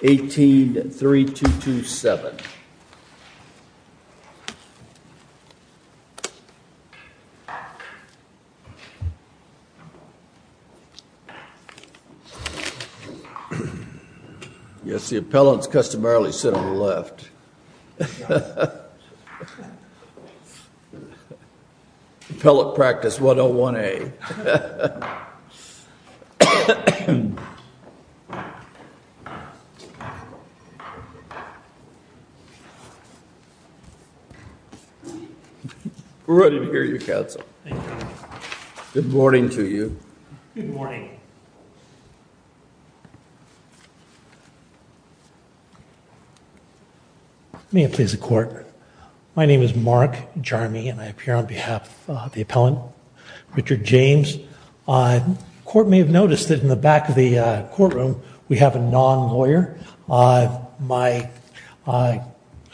18-3227. Yes, the appellants customarily sit on the left. Appellant practice 101A. We're ready to hear your counsel. Thank you. Good morning to you. Good morning. May it please the court. My name is Mark Jarmy and I appear on behalf of the appellant, Richard James. The court may have noticed that in the back of the courtroom we have a non-lawyer. I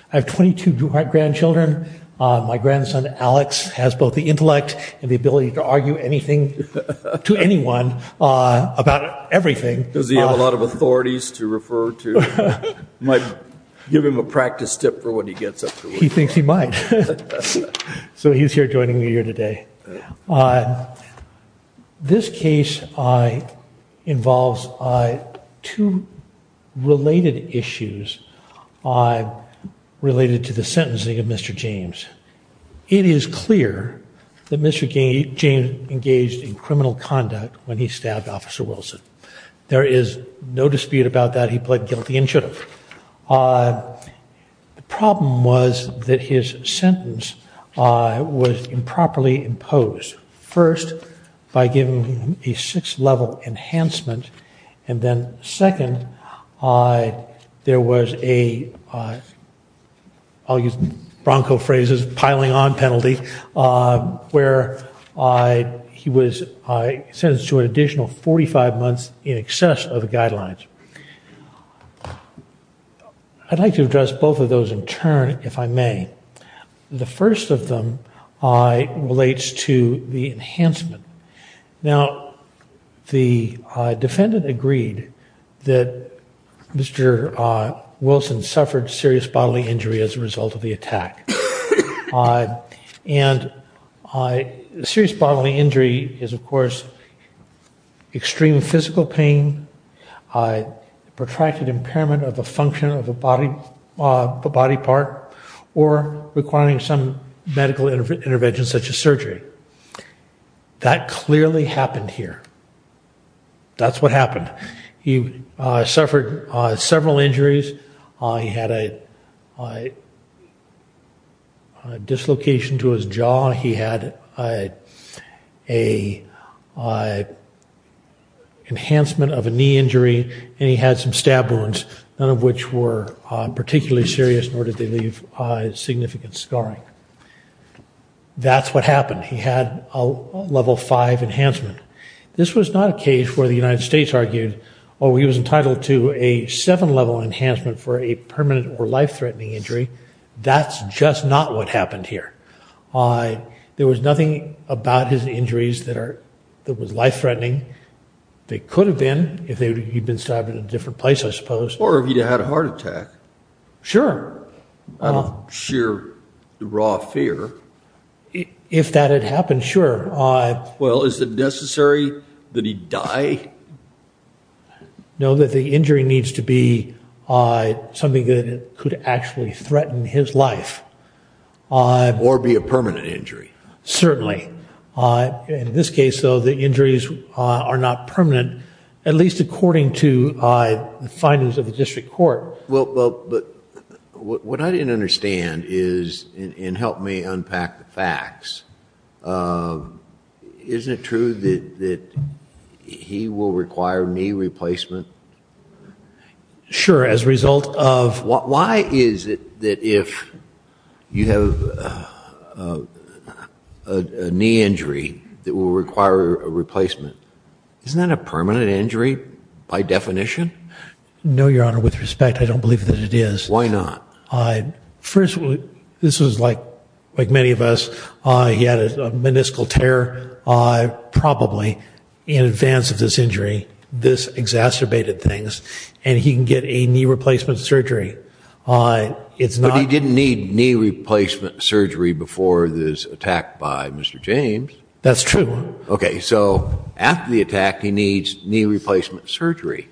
have 22 grandchildren. My grandson, Alex, has both the intellect and the ability to argue anything to anyone about everything. Does he have a lot of authorities to refer to? Give him a practice tip for when he gets up to work. He thinks he might. So he's here joining me here today. This case involves two related issues related to the sentencing of Mr. James. It is clear that Mr. James engaged in criminal conduct when he stabbed Officer Wilson. There is no dispute about that. He pled guilty and should have. The problem was that his sentence was improperly imposed. First, by giving him a six level enhancement, and then second, there was a, I'll use bronco phrases, piling on penalty, where he was sentenced to an additional 45 months in excess of the guidelines. I'd like to address both of those in turn, if I may. The first of them relates to the enhancement. Now, the defendant agreed that Mr. Wilson suffered serious bodily injury as a result of the attack. And serious bodily injury is, of course, extreme physical pain, protracted impairment of a function of a body part, or requiring some medical intervention such as surgery. That clearly happened here. That's what happened. He suffered several injuries. He had a dislocation to his jaw. He had an enhancement of a knee injury. And he had some stab wounds, none of which were particularly serious, nor did they leave significant scarring. That's what happened. He had a level five enhancement. This was not a case where the United States argued, oh, he was entitled to a seven level enhancement for a permanent or life-threatening injury. That's just not what happened here. There was nothing about his injuries that was life-threatening. They could have been if he'd been stabbed in a different place, I suppose. Or if he'd had a heart attack. Sure. I don't share the raw fear. If that had happened, sure. Well, is it necessary that he die? No, that the injury needs to be something that could actually threaten his life. Or be a permanent injury. Certainly. In this case, though, the injuries are not permanent, at least according to the findings of the district court. But what I didn't understand is, and help me unpack the facts, isn't it true that he will require knee replacement? Sure, as a result of? Why is it that if you have a knee injury that will require a replacement, isn't that a permanent injury by definition? No, Your Honor, with respect, I don't believe that it is. Why not? First, this was like many of us. He had a meniscal tear probably in advance of this injury. This exacerbated things. And he can get a knee replacement surgery. But he didn't need knee replacement surgery before this attack by Mr. James. That's true. Okay, so after the attack, he needs knee replacement surgery.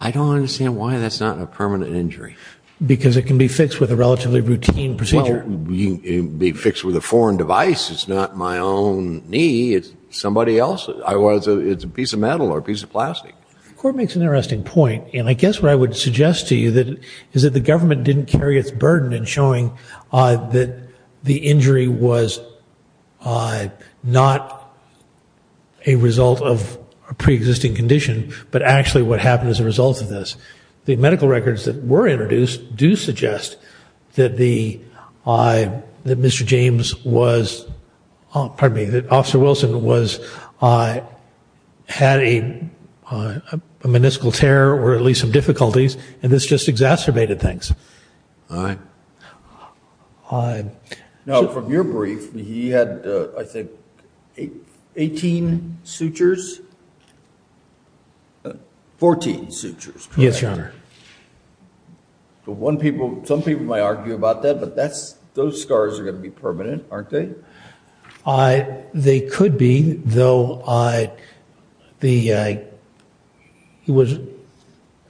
I don't understand why that's not a permanent injury. Because it can be fixed with a relatively routine procedure. Well, it can be fixed with a foreign device. It's not my own knee. It's somebody else's. It's a piece of metal or a piece of plastic. The court makes an interesting point. And I guess what I would suggest to you is that the government didn't carry its burden in showing that the injury was not a result of a preexisting condition, but actually what happened as a result of this. The medical records that were introduced do suggest that Mr. James was, pardon me, that Officer Wilson had a meniscal tear or at least some difficulties, and this just exacerbated things. All right. Now, from your brief, he had, I think, 18 sutures? 14 sutures. Yes, Your Honor. Some people might argue about that, but those scars are going to be permanent, aren't they? They could be, though it was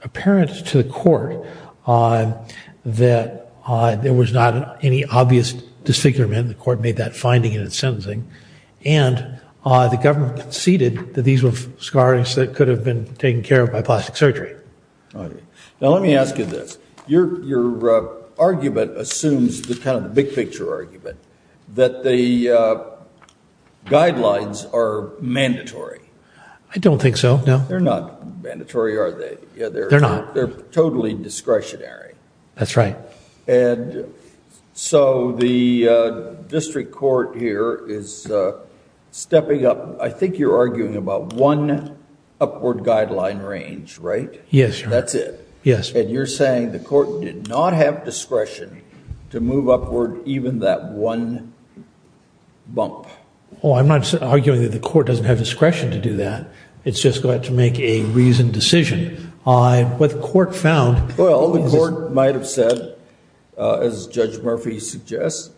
apparent to the court that there was not any obvious disfigurement. The court made that finding in its sentencing. And the government conceded that these were scars that could have been taken care of by plastic surgery. All right. Now, let me ask you this. Your argument assumes the kind of big-picture argument that the guidelines are mandatory. I don't think so, no. They're not mandatory, are they? They're not. They're totally discretionary. That's right. And so the district court here is stepping up. I think you're arguing about one upward guideline range, right? Yes, Your Honor. That's it? Yes. And you're saying the court did not have discretion to move upward even that one bump? Oh, I'm not arguing that the court doesn't have discretion to do that. It's just going to have to make a reasoned decision. What the court found is this. Well, the court might have said, as Judge Murphy suggests,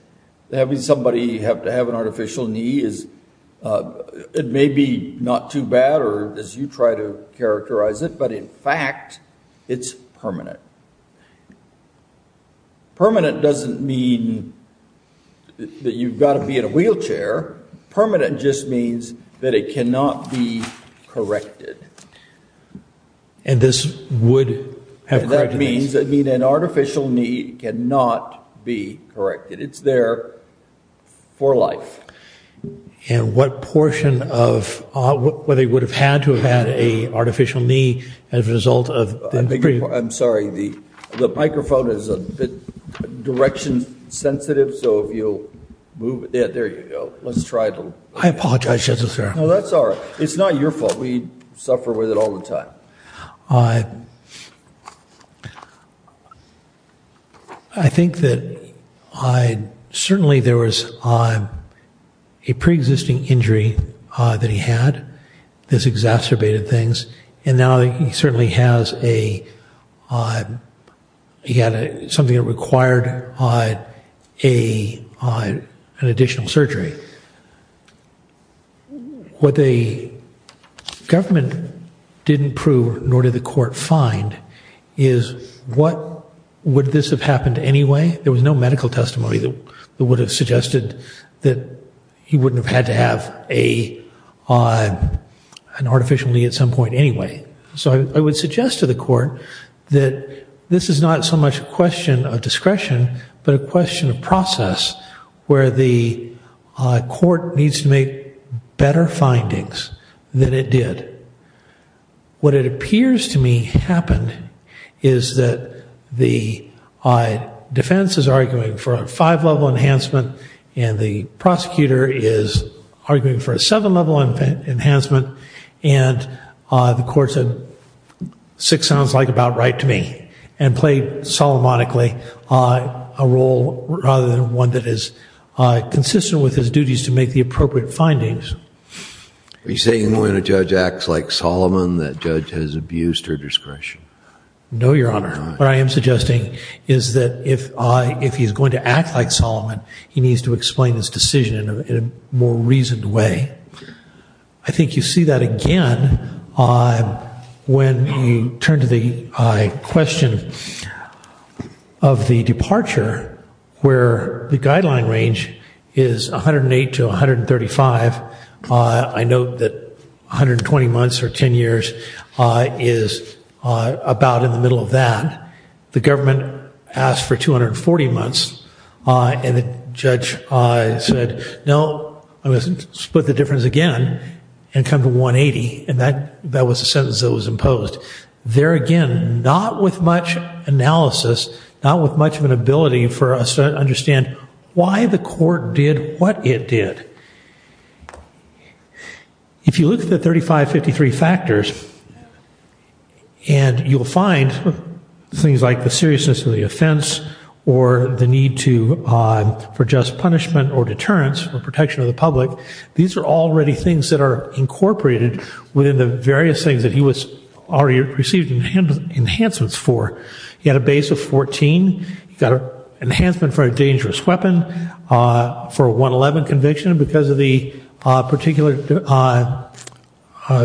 that having somebody have to have an artificial knee, it may be not too bad, or as you try to characterize it, but in fact, it's permanent. Permanent doesn't mean that you've got to be in a wheelchair. Permanent just means that it cannot be corrected. And this would have criteria? That means an artificial knee cannot be corrected. It's there for life. And what portion of whether you would have had to have had an artificial knee as a result of the previous? I'm sorry. The microphone is a bit direction sensitive, so if you'll move it. Yeah, there you go. Let's try it a little. I apologize, Judge O'Shaughnessy. No, that's all right. It's not your fault. We suffer with it all the time. I think that certainly there was a pre-existing injury that he had that's exacerbated things, and now he certainly has a, he had something that required an additional surgery. What the government didn't prove, nor did the court find, is what would this have happened anyway? There was no medical testimony that would have suggested that he wouldn't have had to have an artificial knee at some point anyway. So I would suggest to the court that this is not so much a question of discretion, but a question of process where the court needs to make better findings than it did. What it appears to me happened is that the defense is arguing for a five-level enhancement and the prosecutor is arguing for a seven-level enhancement, and the court said six sounds like about right to me, and played solmonically a role rather than one that is consistent with his duties to make the appropriate findings. Are you saying when a judge acts like Solomon that judge has abused her discretion? No, Your Honor. What I am suggesting is that if he's going to act like Solomon, he needs to explain his decision in a more reasoned way. I think you see that again when you turn to the question of the departure, where the guideline range is 108 to 135. I note that 120 months or 10 years is about in the middle of that. The government asked for 240 months and the judge said, no, I'm going to split the difference again and come to 180, and that was the sentence that was imposed. There again, not with much analysis, not with much of an ability for us to understand why the court did what it did. If you look at the 3553 factors, and you'll find things like the seriousness of the offense or the need for just punishment or deterrence or protection of the public, these are already things that are incorporated within the various things that he received enhancements for. He had a base of 14, he got an enhancement for a dangerous weapon, for a 111 conviction because of the particular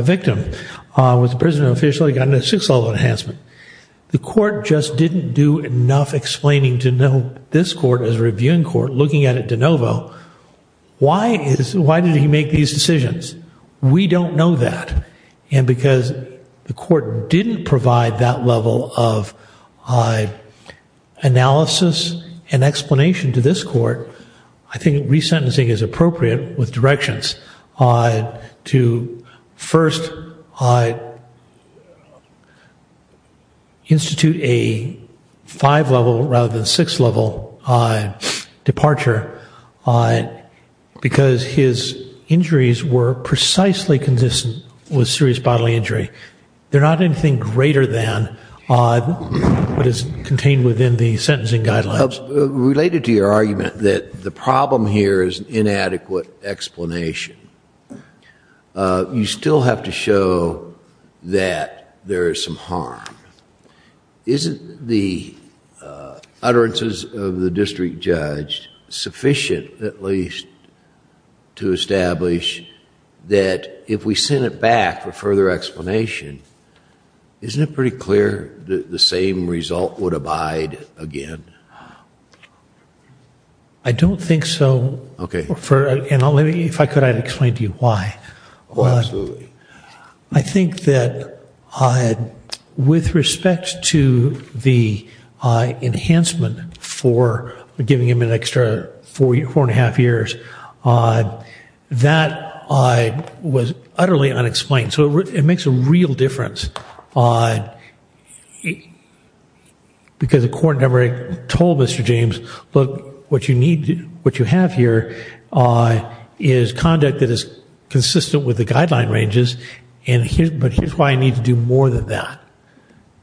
victim, was a prison official, he got a 6-level enhancement. The court just didn't do enough explaining to know this court as a reviewing court, looking at it de novo, why did he make these decisions? We don't know that, and because the court didn't provide that level of analysis and explanation to this court, I think resentencing is appropriate with directions to first institute a 5-level rather than 6-level departure because his injuries were precisely consistent with serious bodily injury. They're not anything greater than what is contained within the sentencing guidelines. Related to your argument that the problem here is inadequate explanation, you still have to show that there is some harm. Isn't the utterances of the district judge sufficient at least to establish that if we send it back for further explanation, isn't it pretty clear that the same result would abide again? I don't think so. Okay. If I could, I'd explain to you why. Oh, absolutely. I think that with respect to the enhancement for giving him an extra four and a half years, that was utterly unexplained. So it makes a real difference because the court never told Mr. James, look, what you have here is conduct that is consistent with the guideline ranges, but here's why I need to do more than that.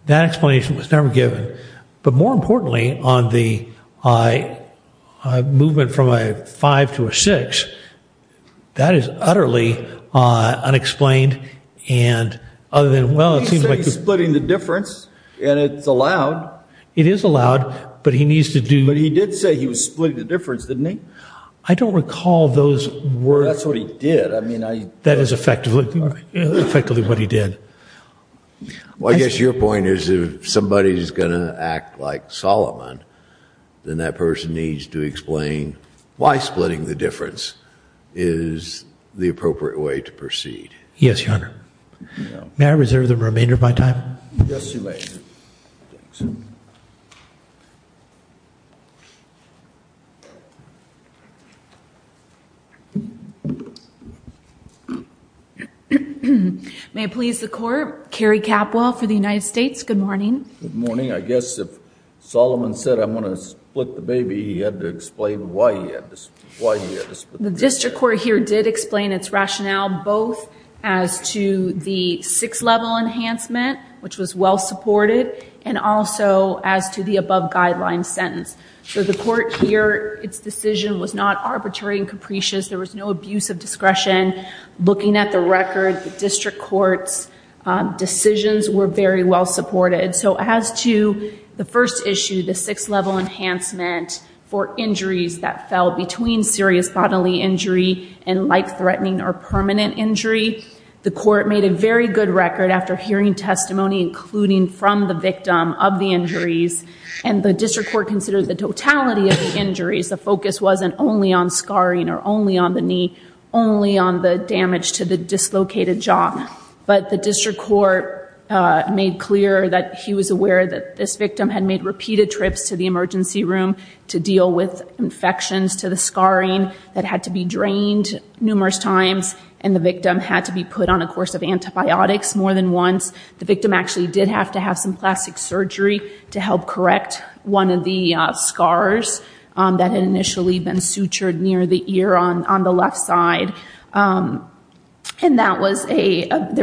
That explanation was never given. But more importantly, on the movement from a 5 to a 6, that is utterly unexplained. He said he's splitting the difference, and it's allowed. It is allowed, but he needs to do more. But he did say he was splitting the difference, didn't he? I don't recall those words. That's what he did. That is effectively what he did. Well, I guess your point is if somebody is going to act like Solomon, then that person needs to explain why splitting the difference is the appropriate way to proceed. May I reserve the remainder of my time? Yes, you may. May it please the Court, Carrie Capwell for the United States. Good morning. Good morning. I guess if Solomon said I'm going to split the baby, he had to explain why he had to split the baby. The district court here did explain its rationale both as to the six-level enhancement, which was well-supported, and also as to the above guideline sentence. So the court here, its decision was not arbitrary and capricious. There was no abuse of discretion. Looking at the record, the district court's decisions were very well-supported. So as to the first issue, the six-level enhancement for injuries that fell between serious bodily injury and life-threatening or permanent injury, the court made a very good record after hearing testimony, including from the victim, of the injuries. And the district court considered the totality of the injuries. The focus wasn't only on scarring or only on the knee, only on the damage to the dislocated jaw. But the district court made clear that he was aware that this victim had made repeated trips to the emergency room to deal with infections to the scarring that had to be drained numerous times, and the victim had to be put on a course of antibiotics more than once. The victim actually did have to have some plastic surgery to help correct one of the scars that had initially been sutured near the ear on the left side. And there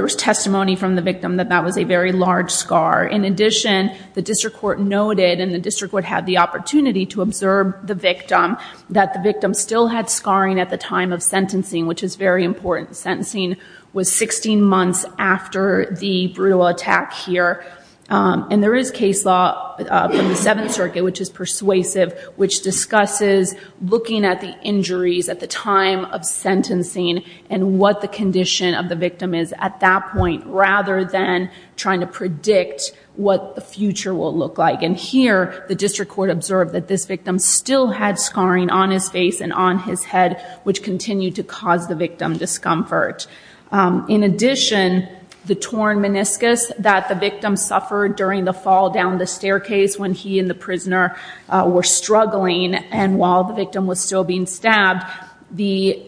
was testimony from the victim that that was a very large scar. In addition, the district court noted, and the district court had the opportunity to observe the victim, that the victim still had scarring at the time of sentencing, which is very important. Sentencing was 16 months after the brutal attack here. And there is case law from the Seventh Circuit, which is persuasive, which discusses looking at the injuries at the time of sentencing and what the condition of the victim is at that point, rather than trying to predict what the future will look like. And here, the district court observed that this victim still had scarring on his face and on his head, which continued to cause the victim discomfort. In addition, the torn meniscus that the victim suffered during the fall down the staircase when he and the prisoner were struggling and while the victim was still being stabbed, the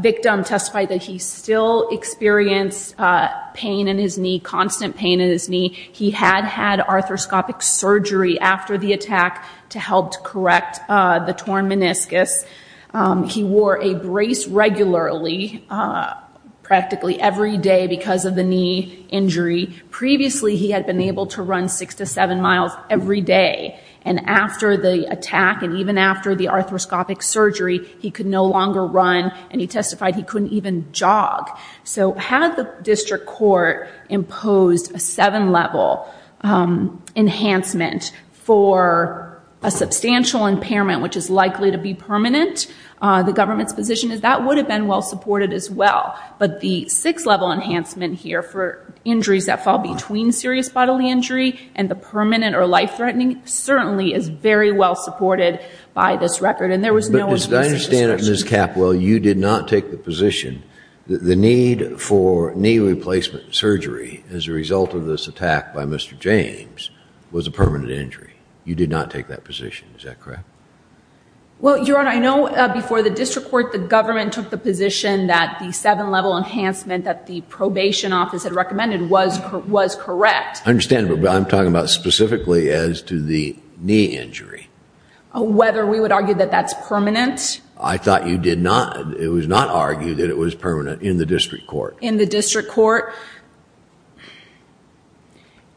victim testified that he still experienced pain in his knee, constant pain in his knee. He had had arthroscopic surgery after the attack to help correct the torn meniscus. He wore a brace regularly, practically every day because of the knee injury. Previously, he had been able to run six to seven miles every day. And after the attack and even after the arthroscopic surgery, he could no longer run and he testified he couldn't even jog. So had the district court imposed a seven-level enhancement for a substantial impairment, which is likely to be permanent, the government's position is that would have been well-supported as well. But the six-level enhancement here for injuries that fall between serious bodily injury and the permanent or life-threatening certainly is very well-supported by this record. But as I understand it, Ms. Capwell, you did not take the position that the need for knee replacement surgery as a result of this attack by Mr. James was a permanent injury. You did not take that position. Is that correct? Well, Your Honor, I know before the district court, the government took the position that the seven-level enhancement that the probation office had recommended was correct. I understand, but I'm talking about specifically as to the knee injury. Whether we would argue that that's permanent. I thought you did not. It was not argued that it was permanent in the district court. In the district court.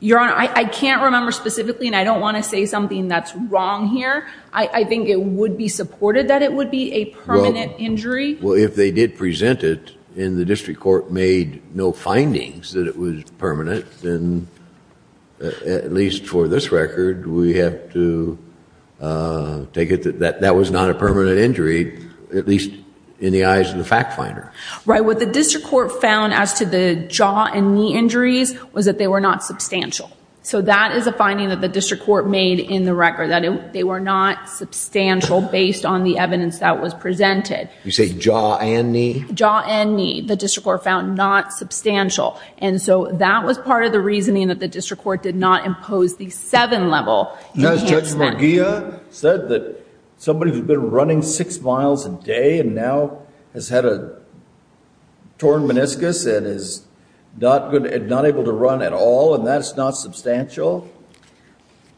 Your Honor, I can't remember specifically and I don't want to say something that's wrong here. I think it would be supported that it would be a permanent injury. Well, if they did present it and the district court made no findings that it was permanent, then at least for this record, we have to take it that that was not a permanent injury, at least in the eyes of the fact finder. Right. What the district court found as to the jaw and knee injuries was that they were not substantial. So that is a finding that the district court made in the record, that they were not substantial based on the evidence that was presented. You say jaw and knee? Jaw and knee, the district court found not substantial. And so that was part of the reasoning that the district court did not impose the seven-level enhancement. Judge McGeough said that somebody who's been running six miles a day and now has had a torn meniscus and is not able to run at all, and that's not substantial?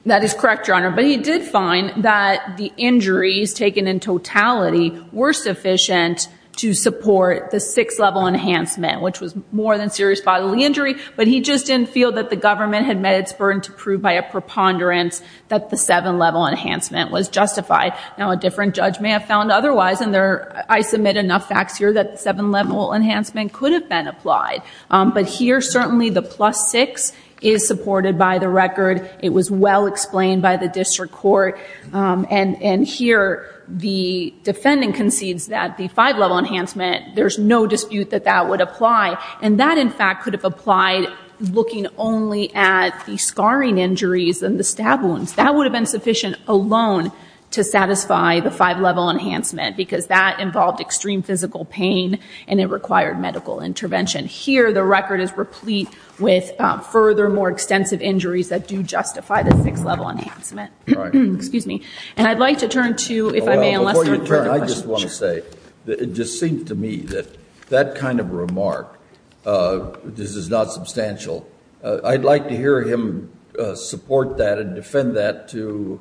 That is correct, Your Honor. But he did find that the injuries taken in totality were sufficient to support the six-level enhancement, which was more than serious bodily injury, but he just didn't feel that the government had met its burden to prove by a preponderance that the seven-level enhancement was justified. Now, a different judge may have found otherwise, and I submit enough facts here that the seven-level enhancement could have been applied. But here, certainly the plus six is supported by the record. It was well explained by the district court. And here, the defendant concedes that the five-level enhancement, there's no dispute that that would apply. And that, in fact, could have applied looking only at the scarring injuries and the stab wounds. That would have been sufficient alone to satisfy the five-level enhancement because that involved extreme physical pain and it required medical intervention. Here, the record is replete with further, more extensive injuries that do justify the six-level enhancement. Excuse me. And I'd like to turn to, if I may, Lester. Before you turn, I just want to say that it just seems to me that that kind of remark, this is not substantial. I'd like to hear him support that and defend that to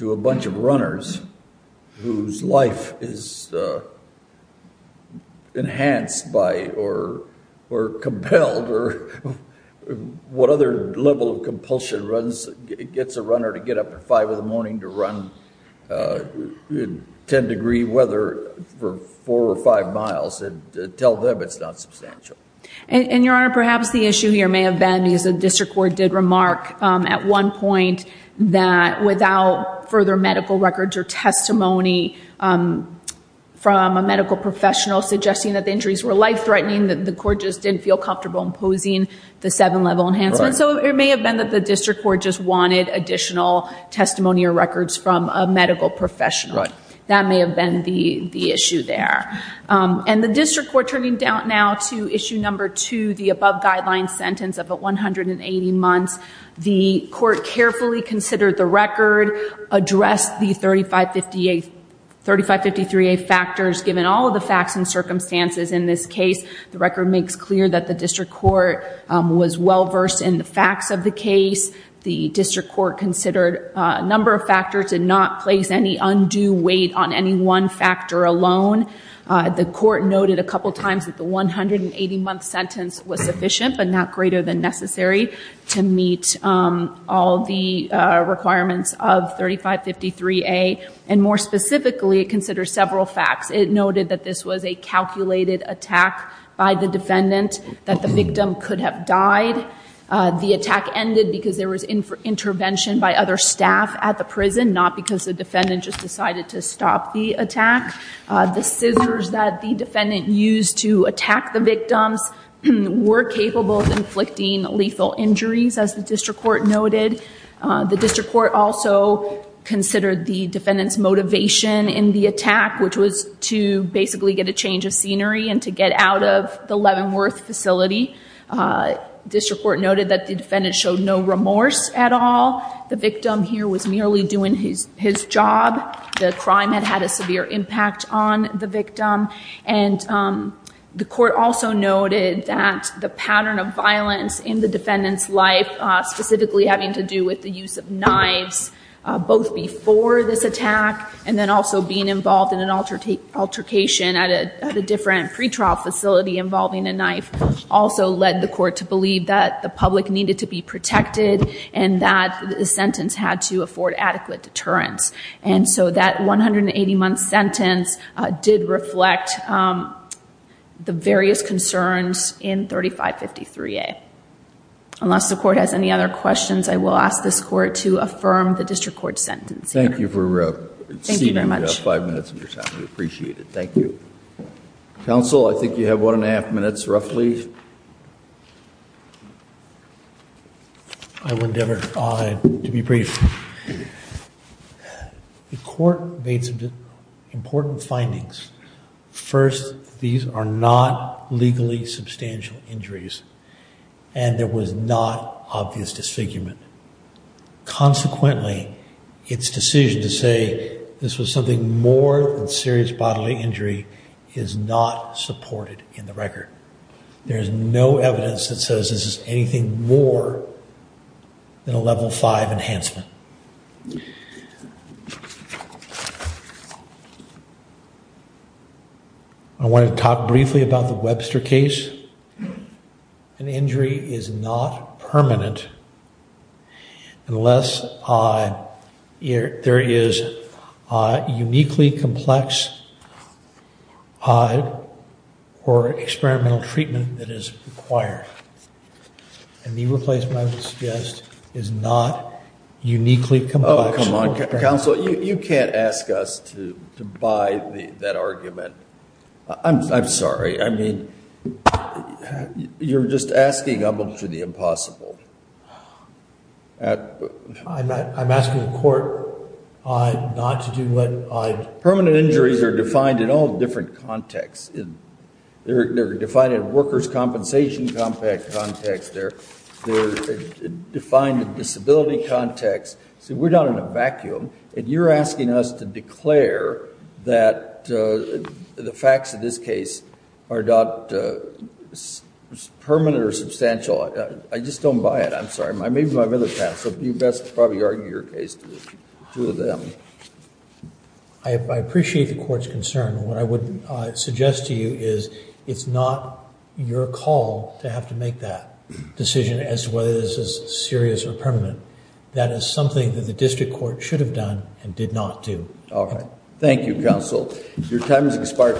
a bunch of runners whose life is enhanced by or compelled or what other level of compulsion gets a runner to get up at five in the morning to run in 10-degree weather for four or five miles and tell them it's not substantial. And, Your Honor, perhaps the issue here may have been, as the district court did remark at one point, that without further medical records or testimony from a medical professional suggesting that the injuries were life-threatening, that the court just didn't feel comfortable imposing the seven-level enhancement. So it may have been that the district court just wanted additional testimony or records from a medical professional. That may have been the issue there. And the district court turning down now to issue number two, the above-guideline sentence of 180 months. The court carefully considered the record, addressed the 3553A factors, given all of the facts and circumstances in this case. The record makes clear that the district court was well-versed in the facts of the case. The district court considered a number of factors and not placed any undue weight on any one factor alone. The court noted a couple of times that the 180-month sentence was sufficient but not greater than necessary to meet all the requirements of 3553A. And more specifically, it considered several facts. It noted that this was a calculated attack by the defendant, that the victim could have died. The attack ended because there was intervention by other staff at the prison, not because the defendant just decided to stop the attack. The scissors that the defendant used to attack the victims were capable of inflicting lethal injuries, as the district court noted. The district court also considered the defendant's motivation in the attack, which was to basically get a change of scenery and to get out of the Leavenworth facility. District court noted that the defendant showed no remorse at all. The victim here was merely doing his job. The crime had had a severe impact on the victim. And the court also noted that the pattern of violence in the defendant's life, specifically having to do with the use of knives, both before this attack and then also being involved in an altercation at a different pretrial facility involving a knife, also led the court to believe that the public needed to be protected and that the sentence had to afford adequate deterrence. And so that 180-month sentence did reflect the various concerns in 3553A. Unless the court has any other questions, I will ask this court to affirm the district court's sentence here. Thank you for seeing the five minutes of your time. We appreciate it. Thank you. Counsel, I think you have one and a half minutes roughly. I will endeavor to be brief. The court made some important findings. First, these are not legally substantial injuries, and there was not obvious disfigurement. Consequently, its decision to say this was something more than serious bodily injury is not supported in the record. There is no evidence that says this is anything more than a level five enhancement. I want to talk briefly about the Webster case. An injury is not permanent unless there is a uniquely complex or experimental treatment that is required. A knee replacement, I would suggest, is not uniquely complex. Oh, come on, Counsel. You can't ask us to buy that argument. I'm sorry. I mean, you're just asking up to the impossible. I'm asking the court not to do what I'm... Permanent injuries are defined in all different contexts. They're defined in workers' compensation context. They're defined in disability context. See, we're not in a vacuum, and you're asking us to declare that the facts of this case are not permanent or substantial. I just don't buy it. I'm sorry. Maybe I'm in the past, so you best probably argue your case to them. I appreciate the court's concern. What I would suggest to you is it's not your call to have to make that decision as to whether this is serious or permanent. That is something that the district court should have done and did not do. Okay. Thank you, Counsel. Your time has expired.